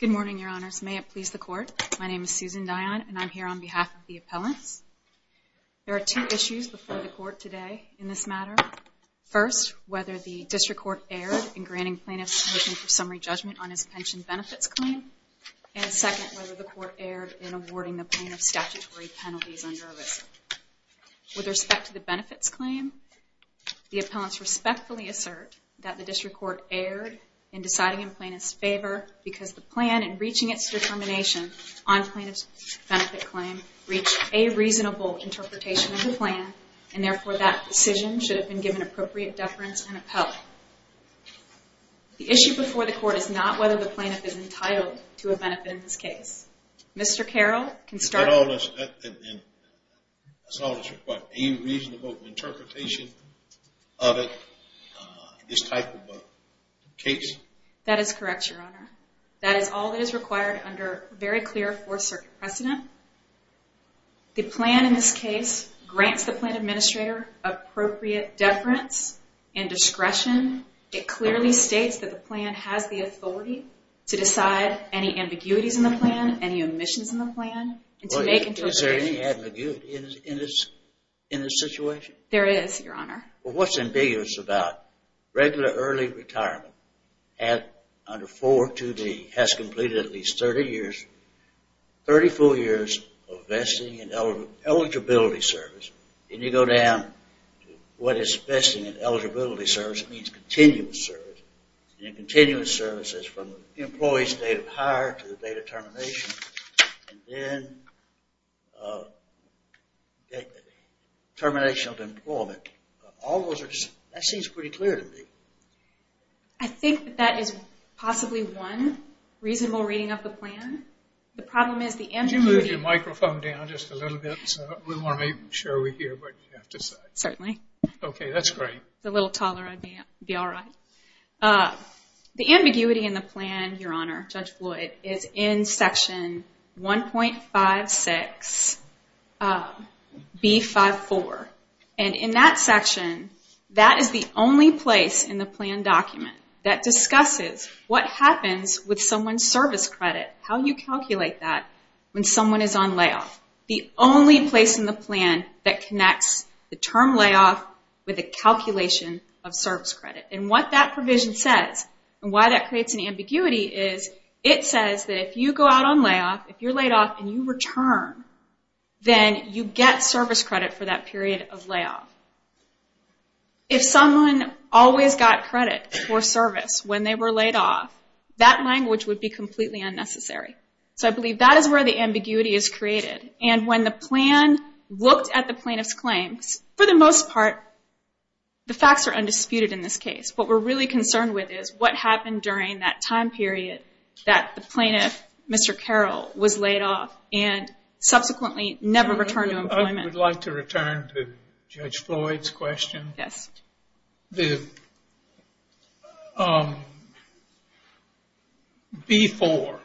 Good morning, your honors. May it please the court, my name is Susan Dion and I'm here on behalf of the appellants. There are two issues before the court today in this matter. First, whether the district court erred in granting plaintiffs a motion for summary judgment on his pension benefits claim. And second, whether the court erred in awarding the plaintiff's statutory penalties under ERISA. With respect to the benefits claim, the appellants respectfully assert that the district court erred in deciding in plaintiff's favor because the plan in reaching its determination on plaintiff's benefit claim reached a reasonable interpretation of the plan and therefore that decision should have been given appropriate deference and appellate. The issue before the court is not whether the plaintiff is entitled to a benefit in this case. Mr. Carroll can start. That is correct, your honor. That is all that is required under a very clear Fourth Circuit precedent. The plan in this case grants the plan administrator appropriate deference and discretion. It clearly states that the plan has the authority to decide any ambiguities in the plan, any omissions in the plan. Is there any ambiguity in this situation? There is, your honor. What is ambiguous about regular early retirement under 4.2b has completed at least 30 years, 34 years of vesting and eligibility service, and you go down to what is vesting and eligibility service, it means continuous service, and continuous service is from employee's date of hire to the date of termination, and then termination of employment. All those are, that seems pretty clear to me. I think that is possibly one reasonable reading of the plan. The problem is the ambiguity... Could you move your microphone down just a little bit? We want to make sure we hear what you have to say. Certainly. Okay, that is great. If it was a little taller, I would be alright. The ambiguity in the plan, your honor, Judge Floyd, is in Section 1.56b.5.4, and in that section, that is the only place in the plan document that discusses what happens with someone's service credit, how you calculate that when someone is on layoff. The only place in the plan that connects the term layoff with a calculation of service credit, and what that provision says, and why that creates an ambiguity is it says that if you go out on layoff, if you are laid off and you return, then you get service credit for that period of layoff. If someone always got credit for service when they were laid off, that language would be completely unnecessary. So I believe that is where the ambiguity is created, and when the plan looked at the plaintiff's claims, for the most part, the facts are undisputed in this case. What we're really concerned with is what happened during that time period that the plaintiff, Mr. Carroll, was laid off, and subsequently never returned to employment. I would like to return to Judge Floyd's question. The B-4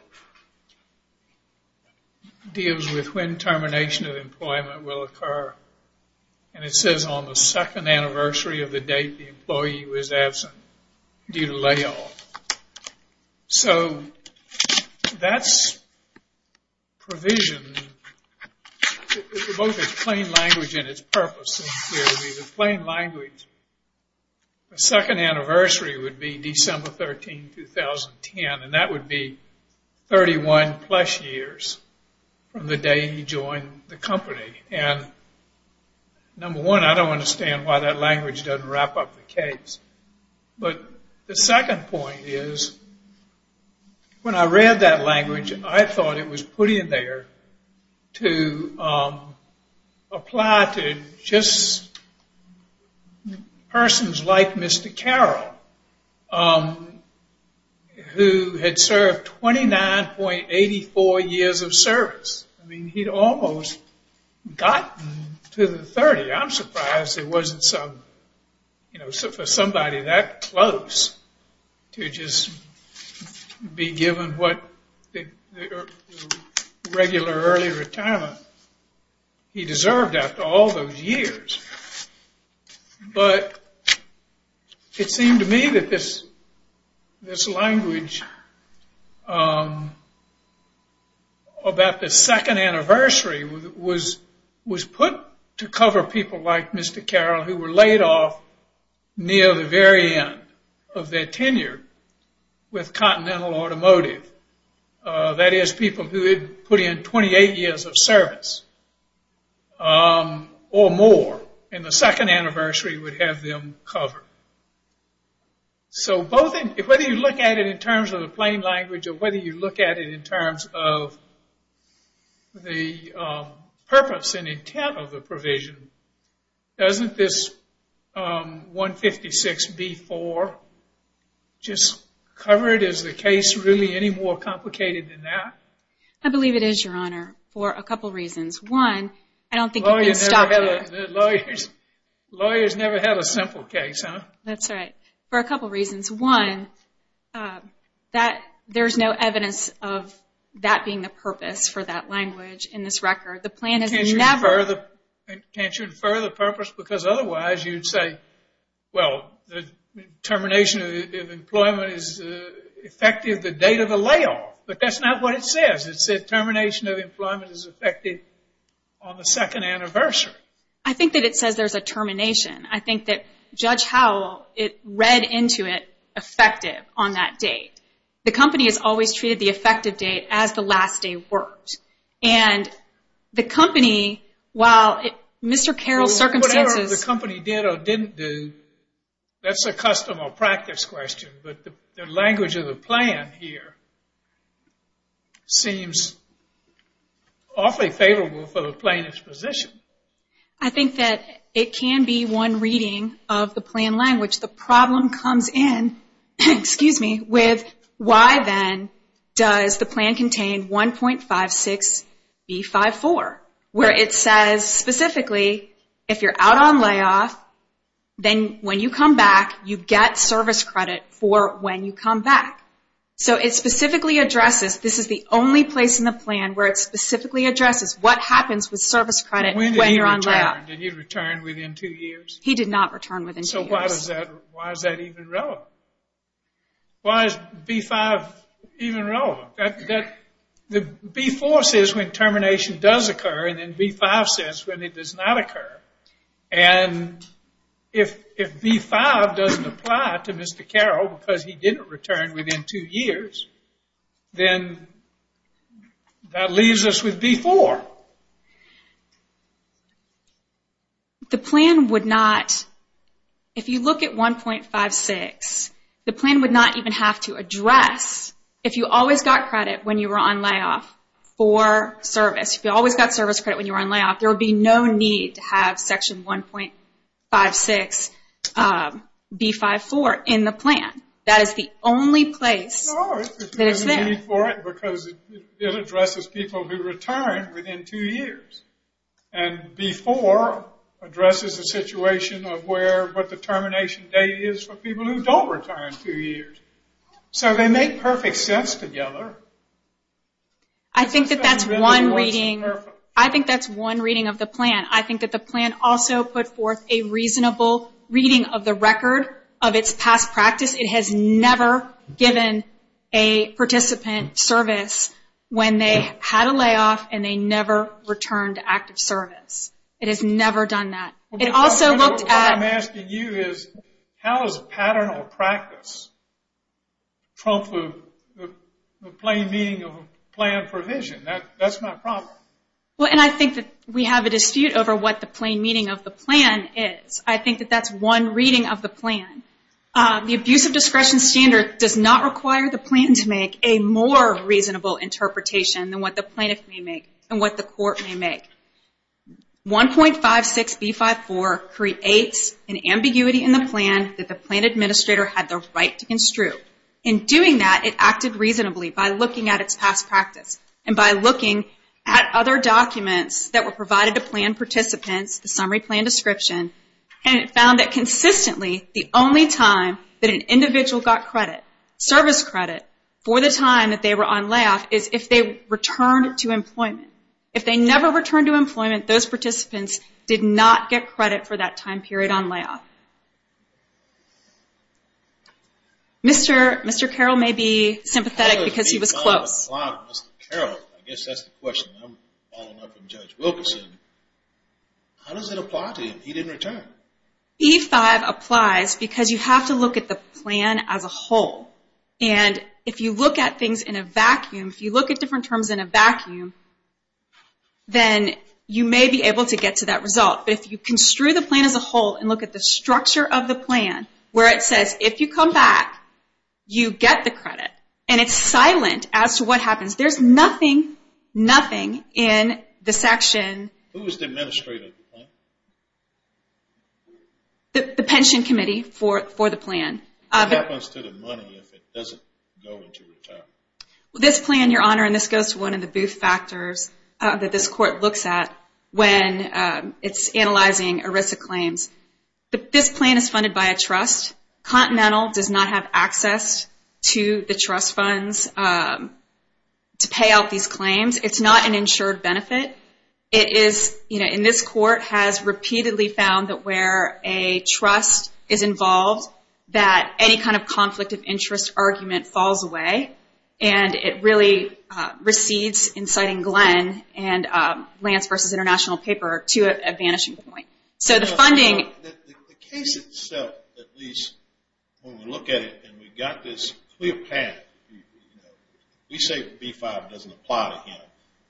deals with when termination of employment will occur, and it says on the second anniversary of the date the employee was absent due to layoff. So that's provision, both in plain language and its purpose. In plain language, the second anniversary would be December 13, 2010, and that would be 31 plus years from the day he joined the company. Number one, I don't understand why that language doesn't wrap up the case. But the second point is, when I read that language, I thought it was put in there to apply to just persons like Mr. Carroll, who had served 29.84 years of service. I mean, he'd almost gotten to the 30. I'm surprised it wasn't for somebody that close to just be given the regular early retirement he deserved after all those years. But it seemed to me that this language about the second anniversary was put to cover people like Mr. Carroll who were laid off near the very end of their tenure with Continental Automotive. That is, people who had put in 28 years of service or more, and the second anniversary would have them covered. So whether you look at it in terms of the plain language or whether you look at it in terms of the purpose and intent of the provision, doesn't this 156B-4 just cover it as the case really any more complicated than that? I believe it is, Your Honor, for a couple reasons. One, I don't think you can stop there. Lawyers never have a simple case, huh? That's right. For a couple reasons. One, there's no evidence of that being the purpose for that language in this record. Can't you infer the purpose? Because otherwise you'd say, well, the termination of employment is effective the date of the layoff. But that's not what it says. It says termination of employment is effective on the second anniversary. I think that it says there's a termination. I think that Judge Howell read into it effective on that date. The company has always treated the effective date as the last day worked. And the company, while Mr. Carroll's circumstances... That's a custom or practice question, but the language of the plan here seems awfully favorable for the plaintiff's position. I think that it can be one reading of the plan language. The problem comes in with why then does the plan contain 1.56B-5-4, where it says specifically if you're out on layoff, then when you come back you get service credit for when you come back. So it specifically addresses, this is the only place in the plan where it specifically addresses what happens with service credit when you're on layoff. When did he return? Did he return within two years? He did not return within two years. So why is that even relevant? Why is B-5 even relevant? B-4 says when termination does occur and then B-5 says when it does not occur. And if B-5 doesn't apply to Mr. Carroll because he didn't return within two years, then that leaves us with B-4. The plan would not... If you look at 1.56, the plan would not even have to address if you always got credit when you were on layoff for service. If you always got service credit when you were on layoff, there would be no need to have section 1.56B-5-4 in the plan. That is the only place that it's there. It addresses people who return within two years. And B-4 addresses the situation of what the termination date is for people who don't return in two years. So they make perfect sense together. I think that's one reading of the plan. I think that the plan also put forth a reasonable reading of the record of its past practice. It has never given a participant service when they had a layoff and they never returned to active service. It has never done that. It also looked at... What I'm asking you is how does a pattern or practice trump the plain meaning of a plan provision? That's my problem. Well, and I think that we have a dispute over what the plain meaning of the plan is. I think that that's one reading of the plan. The abuse of discretion standard does not require the plan to make a more reasonable interpretation than what the plaintiff may make and what the court may make. 1.56B-5-4 creates an ambiguity in the plan that the plan administrator had the right to construe. In doing that, it acted reasonably by looking at its past practice and by looking at other documents that were provided to plan participants, the summary plan description, and it found that consistently the only time that an individual got credit, service credit, for the time that they were on layoff is if they returned to employment. If they never returned to employment, those participants did not get credit for that time period on layoff. Mr. Carroll may be sympathetic because he was close. I guess that's the question. I'm following up on Judge Wilkerson. How does it apply to him? He didn't return. 1.56B-5 applies because you have to look at the plan as a whole. And if you look at things in a vacuum, if you look at different terms in a vacuum, then you may be able to get to that result. But if you construe the plan as a whole and look at the structure of the plan, where it says if you come back, you get the credit, and it's silent as to what happens, there's nothing, nothing in the section. Who is the administrator of the plan? The pension committee for the plan. What happens to the money if it doesn't go into retirement? This plan, Your Honor, and this goes to one of the booth factors that this court looks at when it's analyzing ERISA claims. This plan is funded by a trust. Continental does not have access to the trust funds to pay out these claims. It's not an insured benefit. And this court has repeatedly found that where a trust is involved, that any kind of conflict of interest argument falls away, and it really recedes, inciting Glenn and Lance v. International Paper, to a vanishing point. The case itself, at least, when we look at it and we've got this clear path, we say B-5 doesn't apply to him.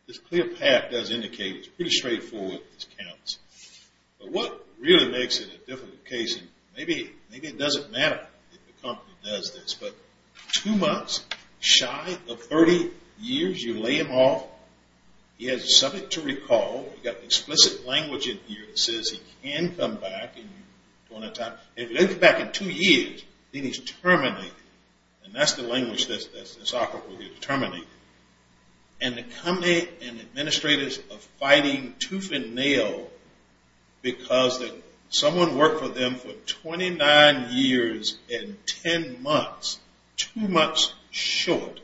This clear path does indicate it. It's pretty straightforward. This counts. But what really makes it a difficult case, and maybe it doesn't matter if the company does this, but two months shy of 30 years, you lay him off. He has something to recall. You've got explicit language in here that says he can come back. And if he doesn't come back in two years, then he's terminated. And that's the language that's applicable here, terminated. And the company and administrators are fighting tooth and nail because someone worked for them for 29 years and 10 months, two months short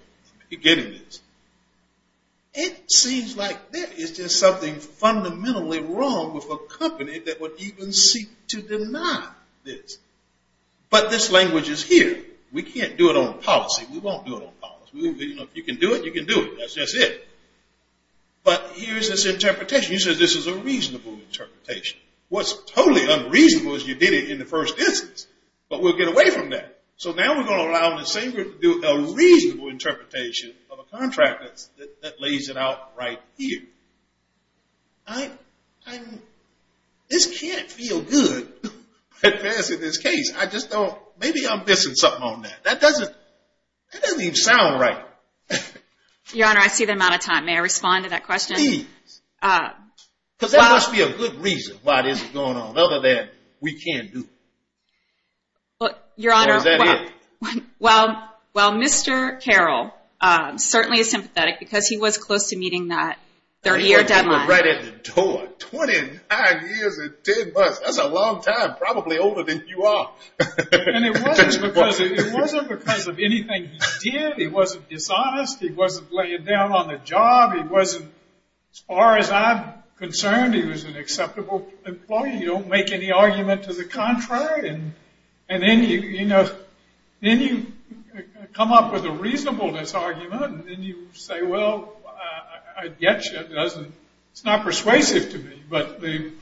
of getting this. It seems like that is just something fundamentally wrong with a company that would even seek to deny this. But this language is here. We can't do it on policy. We won't do it on policy. If you can do it, you can do it. That's just it. But here's this interpretation. You said this is a reasonable interpretation. What's totally unreasonable is you did it in the first instance, but we'll get away from that. So now we're going to allow the same group to do a reasonable interpretation of a contract that lays it out right here. I'm ‑‑ this can't feel good addressing this case. I just don't ‑‑ maybe I'm missing something on that. That doesn't even sound right. Your Honor, I see the amount of time. May I respond to that question? Please. Because there must be a good reason why this is going on other than we can't do it. Your Honor, well, Mr. Carroll certainly is sympathetic because he was close to meeting that 30‑year deadline. Right at the door. 29 years and 10 months. That's a long time, probably older than you are. And it wasn't because of anything he did. He wasn't dishonest. He wasn't laying down on the job. He wasn't, as far as I'm concerned, he was an acceptable employee. You don't make any argument to the contrary. And then you come up with a reasonableness argument. And then you say, well, I get you. It's not persuasive to me. But the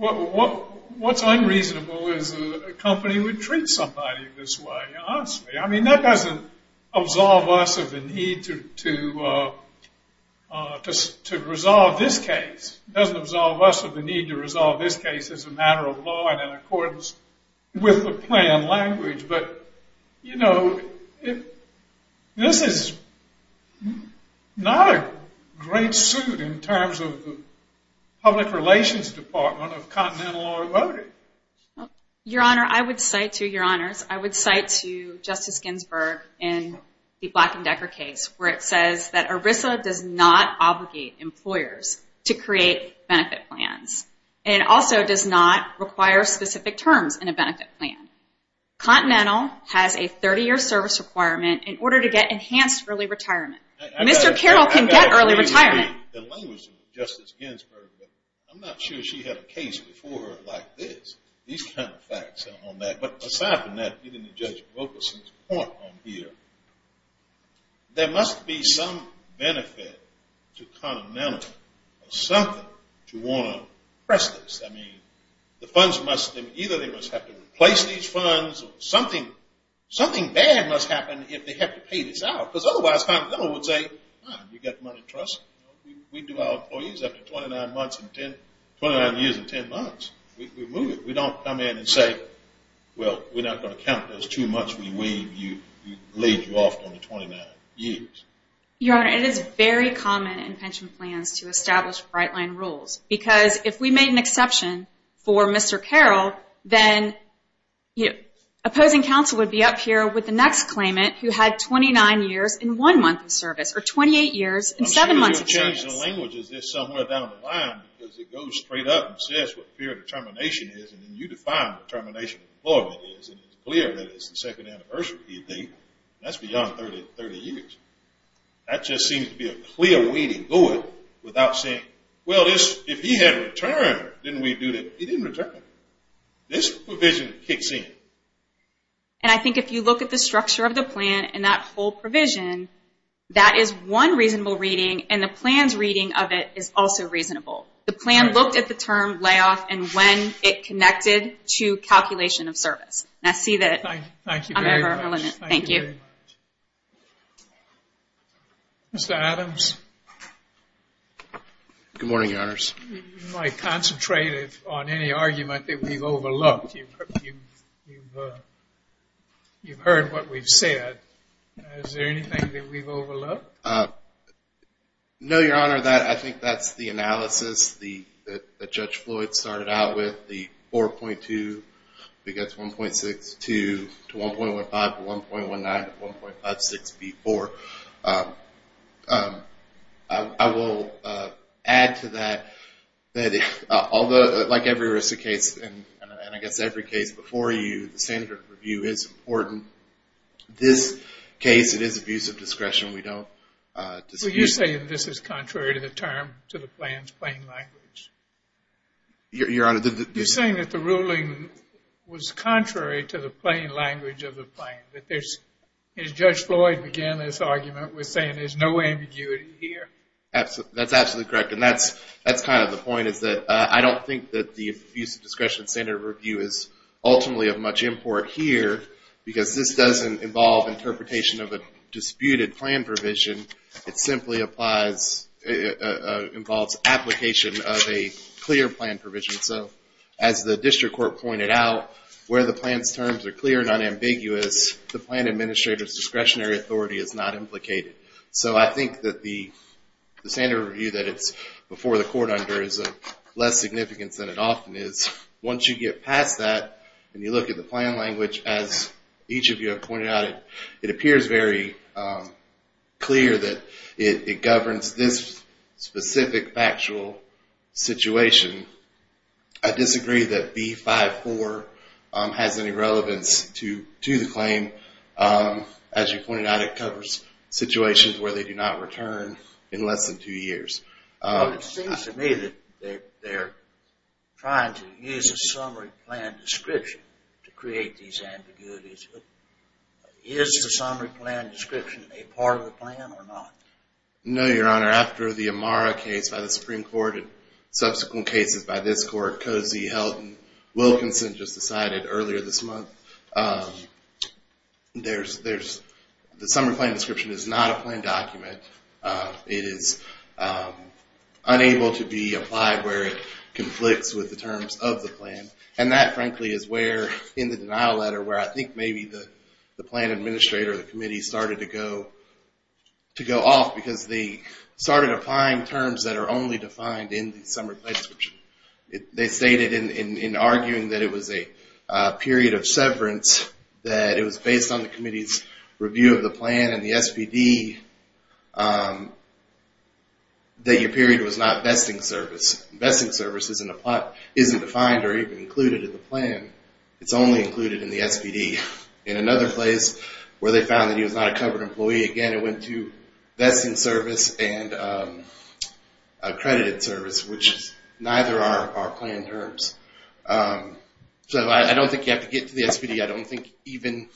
‑‑ what's unreasonable is a company would treat somebody this way, honestly. I mean, that doesn't absolve us of the need to resolve this case. It doesn't absolve us of the need to resolve this case as a matter of law and in accordance with the plan language. But, you know, this is not a great suit in terms of the public relations department of Continental Law and Voting. Your Honor, I would cite to your honors, I would cite to Justice Ginsburg in the Black and Decker case where it says that ERISA does not obligate employers to create benefit plans. And it also does not require specific terms in a benefit plan. Continental has a 30‑year service requirement in order to get enhanced early retirement. Mr. Carroll can get early retirement. I'm not sure she had a case before her like this. These kind of facts on that. But aside from that, getting to Judge Wilkerson's point on here, there must be some benefit to Continental or something to want to press this. I mean, the funds must ‑‑ either they must have to replace these funds or something bad must happen if they have to pay this out. Because otherwise Continental would say, you've got money to trust. We do our employees after 29 years and 10 months. We move it. We don't come in and say, well, we're not going to count those two months we laid you off on the 29 years. Your Honor, it is very common in pension plans to establish bright line rules. Because if we made an exception for Mr. Carroll, then opposing counsel would be up here with the next claimant who had 29 years in one month of service or 28 years in seven months of service. In the language, is this somewhere down the line? Because it goes straight up and says what period of termination is and then you define what termination of employment is. And it's clear that it's the second anniversary, do you think? That's beyond 30 years. That just seems to be a clear wading void without saying, well, if he had returned, didn't we do that? He didn't return. This provision kicks in. And I think if you look at the structure of the plan and that whole provision, that is one reasonable reading, and the plan's reading of it is also reasonable. The plan looked at the term layoff and when it connected to calculation of service. I see that I'm over my limit. Thank you. Mr. Adams? Good morning, Your Honors. You might concentrate on any argument that we've overlooked. You've heard what we've said. Is there anything that we've overlooked? No, Your Honor, I think that's the analysis that Judge Floyd started out with, the 4.2 to 1.62 to 1.15 to 1.19 to 1.56B4. I will add to that, like every risk case, and I guess every case before you, that the standard of review is important. This case, it is abuse of discretion. We don't dispute it. Well, you're saying this is contrary to the term, to the plan's plain language. You're saying that the ruling was contrary to the plain language of the plan, that Judge Floyd began this argument with saying there's no ambiguity here. That's absolutely correct. And that's kind of the point is that I don't think that the abuse of discretion standard of review is ultimately of much import here because this doesn't involve interpretation of a disputed plan provision. It simply involves application of a clear plan provision. So as the district court pointed out, where the plan's terms are clear and unambiguous, the plan administrator's discretionary authority is not implicated. So I think that the standard of review that it's before the court under is of less significance than it often is. Once you get past that and you look at the plan language, as each of you have pointed out, it appears very clear that it governs this specific factual situation. I disagree that B-5-4 has any relevance to the claim. As you pointed out, it covers situations where they do not return in less than two years. It seems to me that they're trying to use a summary plan description to create these ambiguities. But is the summary plan description a part of the plan or not? No, Your Honor. After the Amara case by the Supreme Court and subsequent cases by this court, Cozy, Helton, Wilkinson just decided earlier this month, the summary plan description is not a plan document. It is unable to be applied where it conflicts with the terms of the plan. And that, frankly, is where, in the denial letter, where I think maybe the plan administrator or the committee started to go off because they started applying terms that are only defined in the summary plan description. They stated in arguing that it was a period of severance, that it was based on the committee's review of the plan and the SPD that your period was not vesting service. Vesting service isn't defined or even included in the plan. It's only included in the SPD. In another place where they found that he was not a covered employee, again, it went to vesting service and accredited service, which neither are our plan terms. So I don't think you have to get to the SPD. I don't think even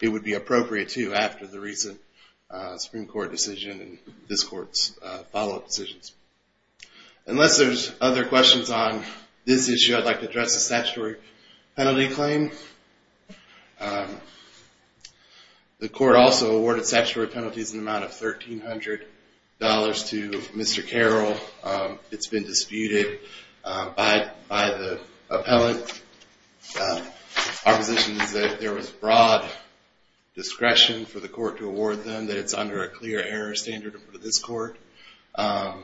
it would be appropriate to after the recent Supreme Court decision and this court's follow-up decisions. Unless there's other questions on this issue, I'd like to address the statutory penalty claim. The court also awarded statutory penalties in the amount of $1,300 to Mr. Carroll. It's been disputed by the appellant. Our position is that there was broad discretion for the court to award them, that it's under a clear error standard for this court, that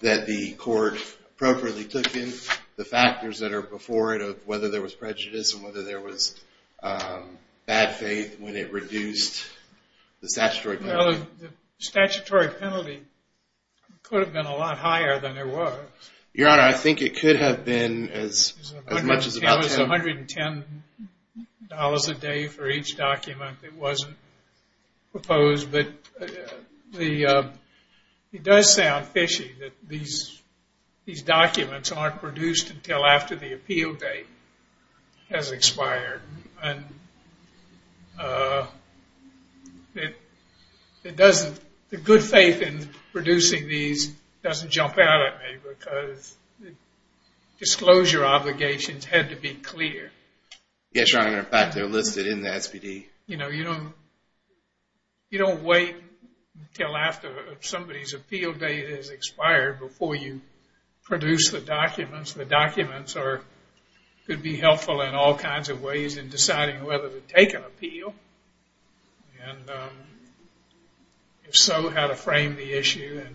the court appropriately took in the factors that are before it of whether there was prejudice and whether there was bad faith when it reduced the statutory penalty. Well, the statutory penalty could have been a lot higher than it was. Your Honor, I think it could have been as much as about 10. It was $110 a day for each document that wasn't proposed. But it does sound fishy that these documents aren't produced until after the appeal date has expired. The good faith in producing these doesn't jump out at me because disclosure obligations had to be clear. Yes, Your Honor. In fact, they're listed in the SPD. You don't wait until after somebody's appeal date has expired before you produce the documents. The documents could be helpful in all kinds of ways in deciding whether to take an appeal. And if so, how to frame the issue and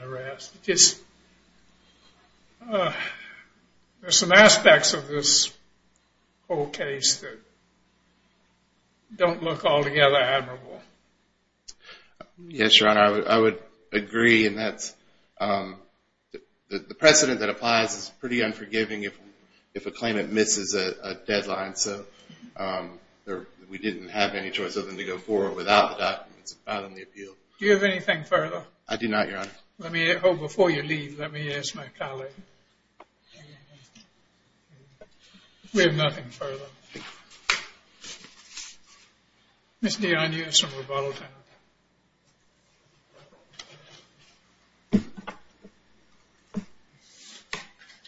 the rest. There are some aspects of this whole case that don't look altogether admirable. Yes, Your Honor, I would agree. The precedent that applies is pretty unforgiving if a claimant misses a deadline. So we didn't have any choice other than to go forward without the documents and file them the appeal. Do you have anything further? I do not, Your Honor. Before you leave, let me ask my colleague. We have nothing further. Ms. Dionne, you have some rebuttal time.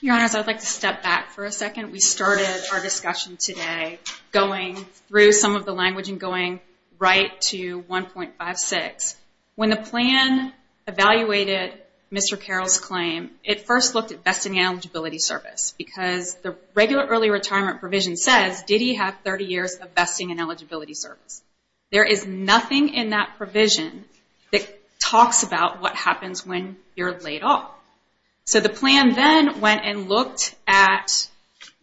Your Honors, I'd like to step back for a second. We started our discussion today going through some of the language and going right to 1.56. When the plan evaluated Mr. Carroll's claim, it first looked at vesting and eligibility service because the regular early retirement provision says, did he have 30 years of vesting and eligibility service? There is nothing in that provision that talks about what happens when you're laid off. So the plan then went and looked at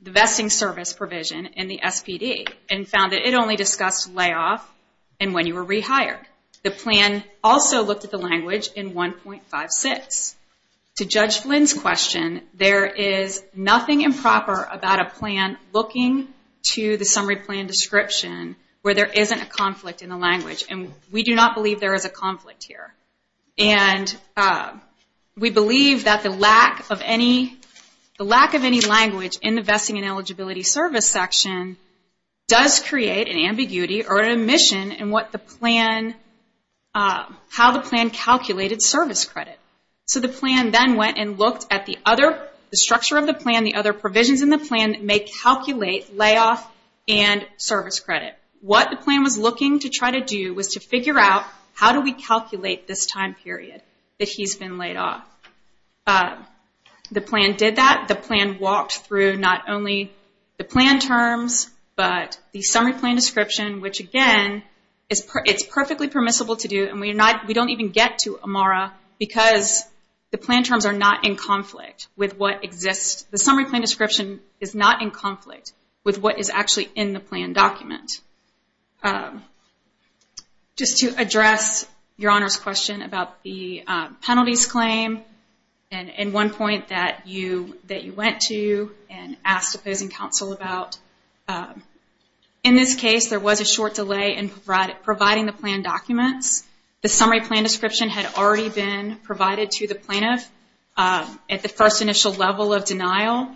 the vesting service provision in the SPD and found that it only discussed layoff and when you were rehired. The plan also looked at the language in 1.56. To Judge Flynn's question, there is nothing improper about a plan looking to the summary plan description where there isn't a conflict in the language, and we do not believe there is a conflict here. We believe that the lack of any language in the vesting and eligibility service section does create an ambiguity or an omission in how the plan calculated service credit. So the plan then went and looked at the structure of the plan, the other provisions in the plan that may calculate layoff and service credit. What the plan was looking to try to do was to figure out how do we calculate this time period that he's been laid off. The plan did that. The plan walked through not only the plan terms, but the summary plan description, which again, it's perfectly permissible to do and we don't even get to Amara because the plan terms are not in conflict with what exists. The summary plan description is not in conflict with what is actually in the plan document. Just to address Your Honor's question about the penalties claim and one point that you went to and asked opposing counsel about, in this case there was a short delay in providing the plan documents. The summary plan description had already been provided to the plaintiff at the first initial level of denial.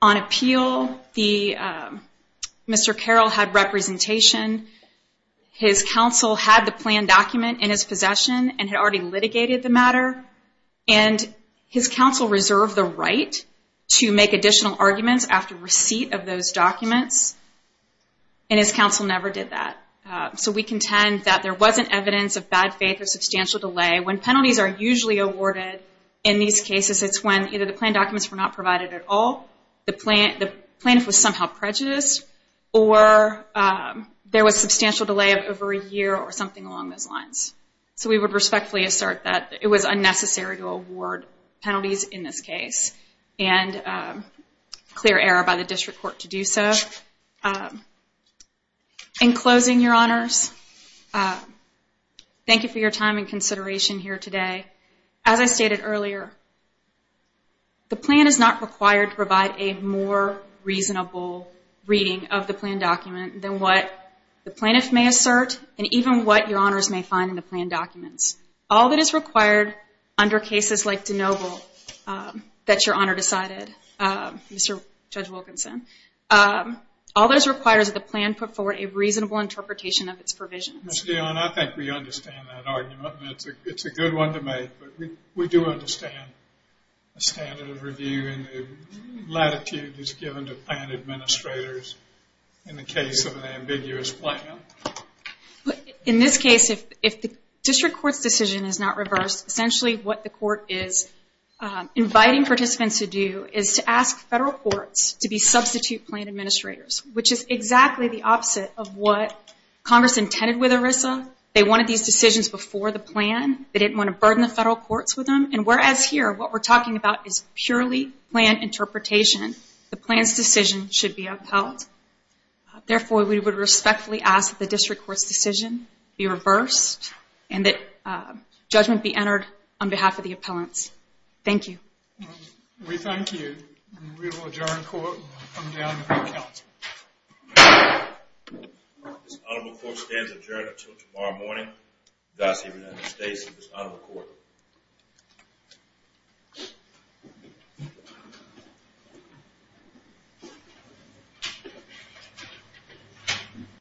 On appeal, Mr. Carroll had representation. His counsel had the plan document in his possession and had already litigated the matter, and his counsel reserved the right to make additional arguments after receipt of those documents, and his counsel never did that. So we contend that there wasn't evidence of bad faith or substantial delay. When penalties are usually awarded in these cases, it's when either the plan documents were not provided at all, the plaintiff was somehow prejudiced, or there was substantial delay of over a year or something along those lines. So we would respectfully assert that it was unnecessary to award penalties in this case and clear error by the district court to do so. In closing, Your Honors, thank you for your time and consideration here today. As I stated earlier, the plan is not required to provide a more reasonable reading of the plan document than what the plaintiff may assert and even what Your Honors may find in the plan documents. All that is required under cases like DeNoble that Your Honor decided, Mr. Judge Wilkinson, all those requires that the plan put forward a reasonable interpretation of its provisions. Ms. Dionne, I think we understand that argument, and it's a good one to make, but we do understand the standard of review and the latitude that's given to plan administrators in the case of an ambiguous plan. In this case, if the district court's decision is not reversed, essentially what the court is inviting participants to do is to ask federal courts to be substitute plan administrators, which is exactly the opposite of what Congress intended with ERISA. They wanted these decisions before the plan. They didn't want to burden the federal courts with them, and whereas here what we're talking about is purely plan interpretation, the plan's decision should be upheld. Therefore, we would respectfully ask that the district court's decision be reversed and that judgment be entered on behalf of the appellants. Thank you. We thank you. We will adjourn court and come down to the council. This honorable court stands adjourned until tomorrow morning. Dossier, United States of this honorable court.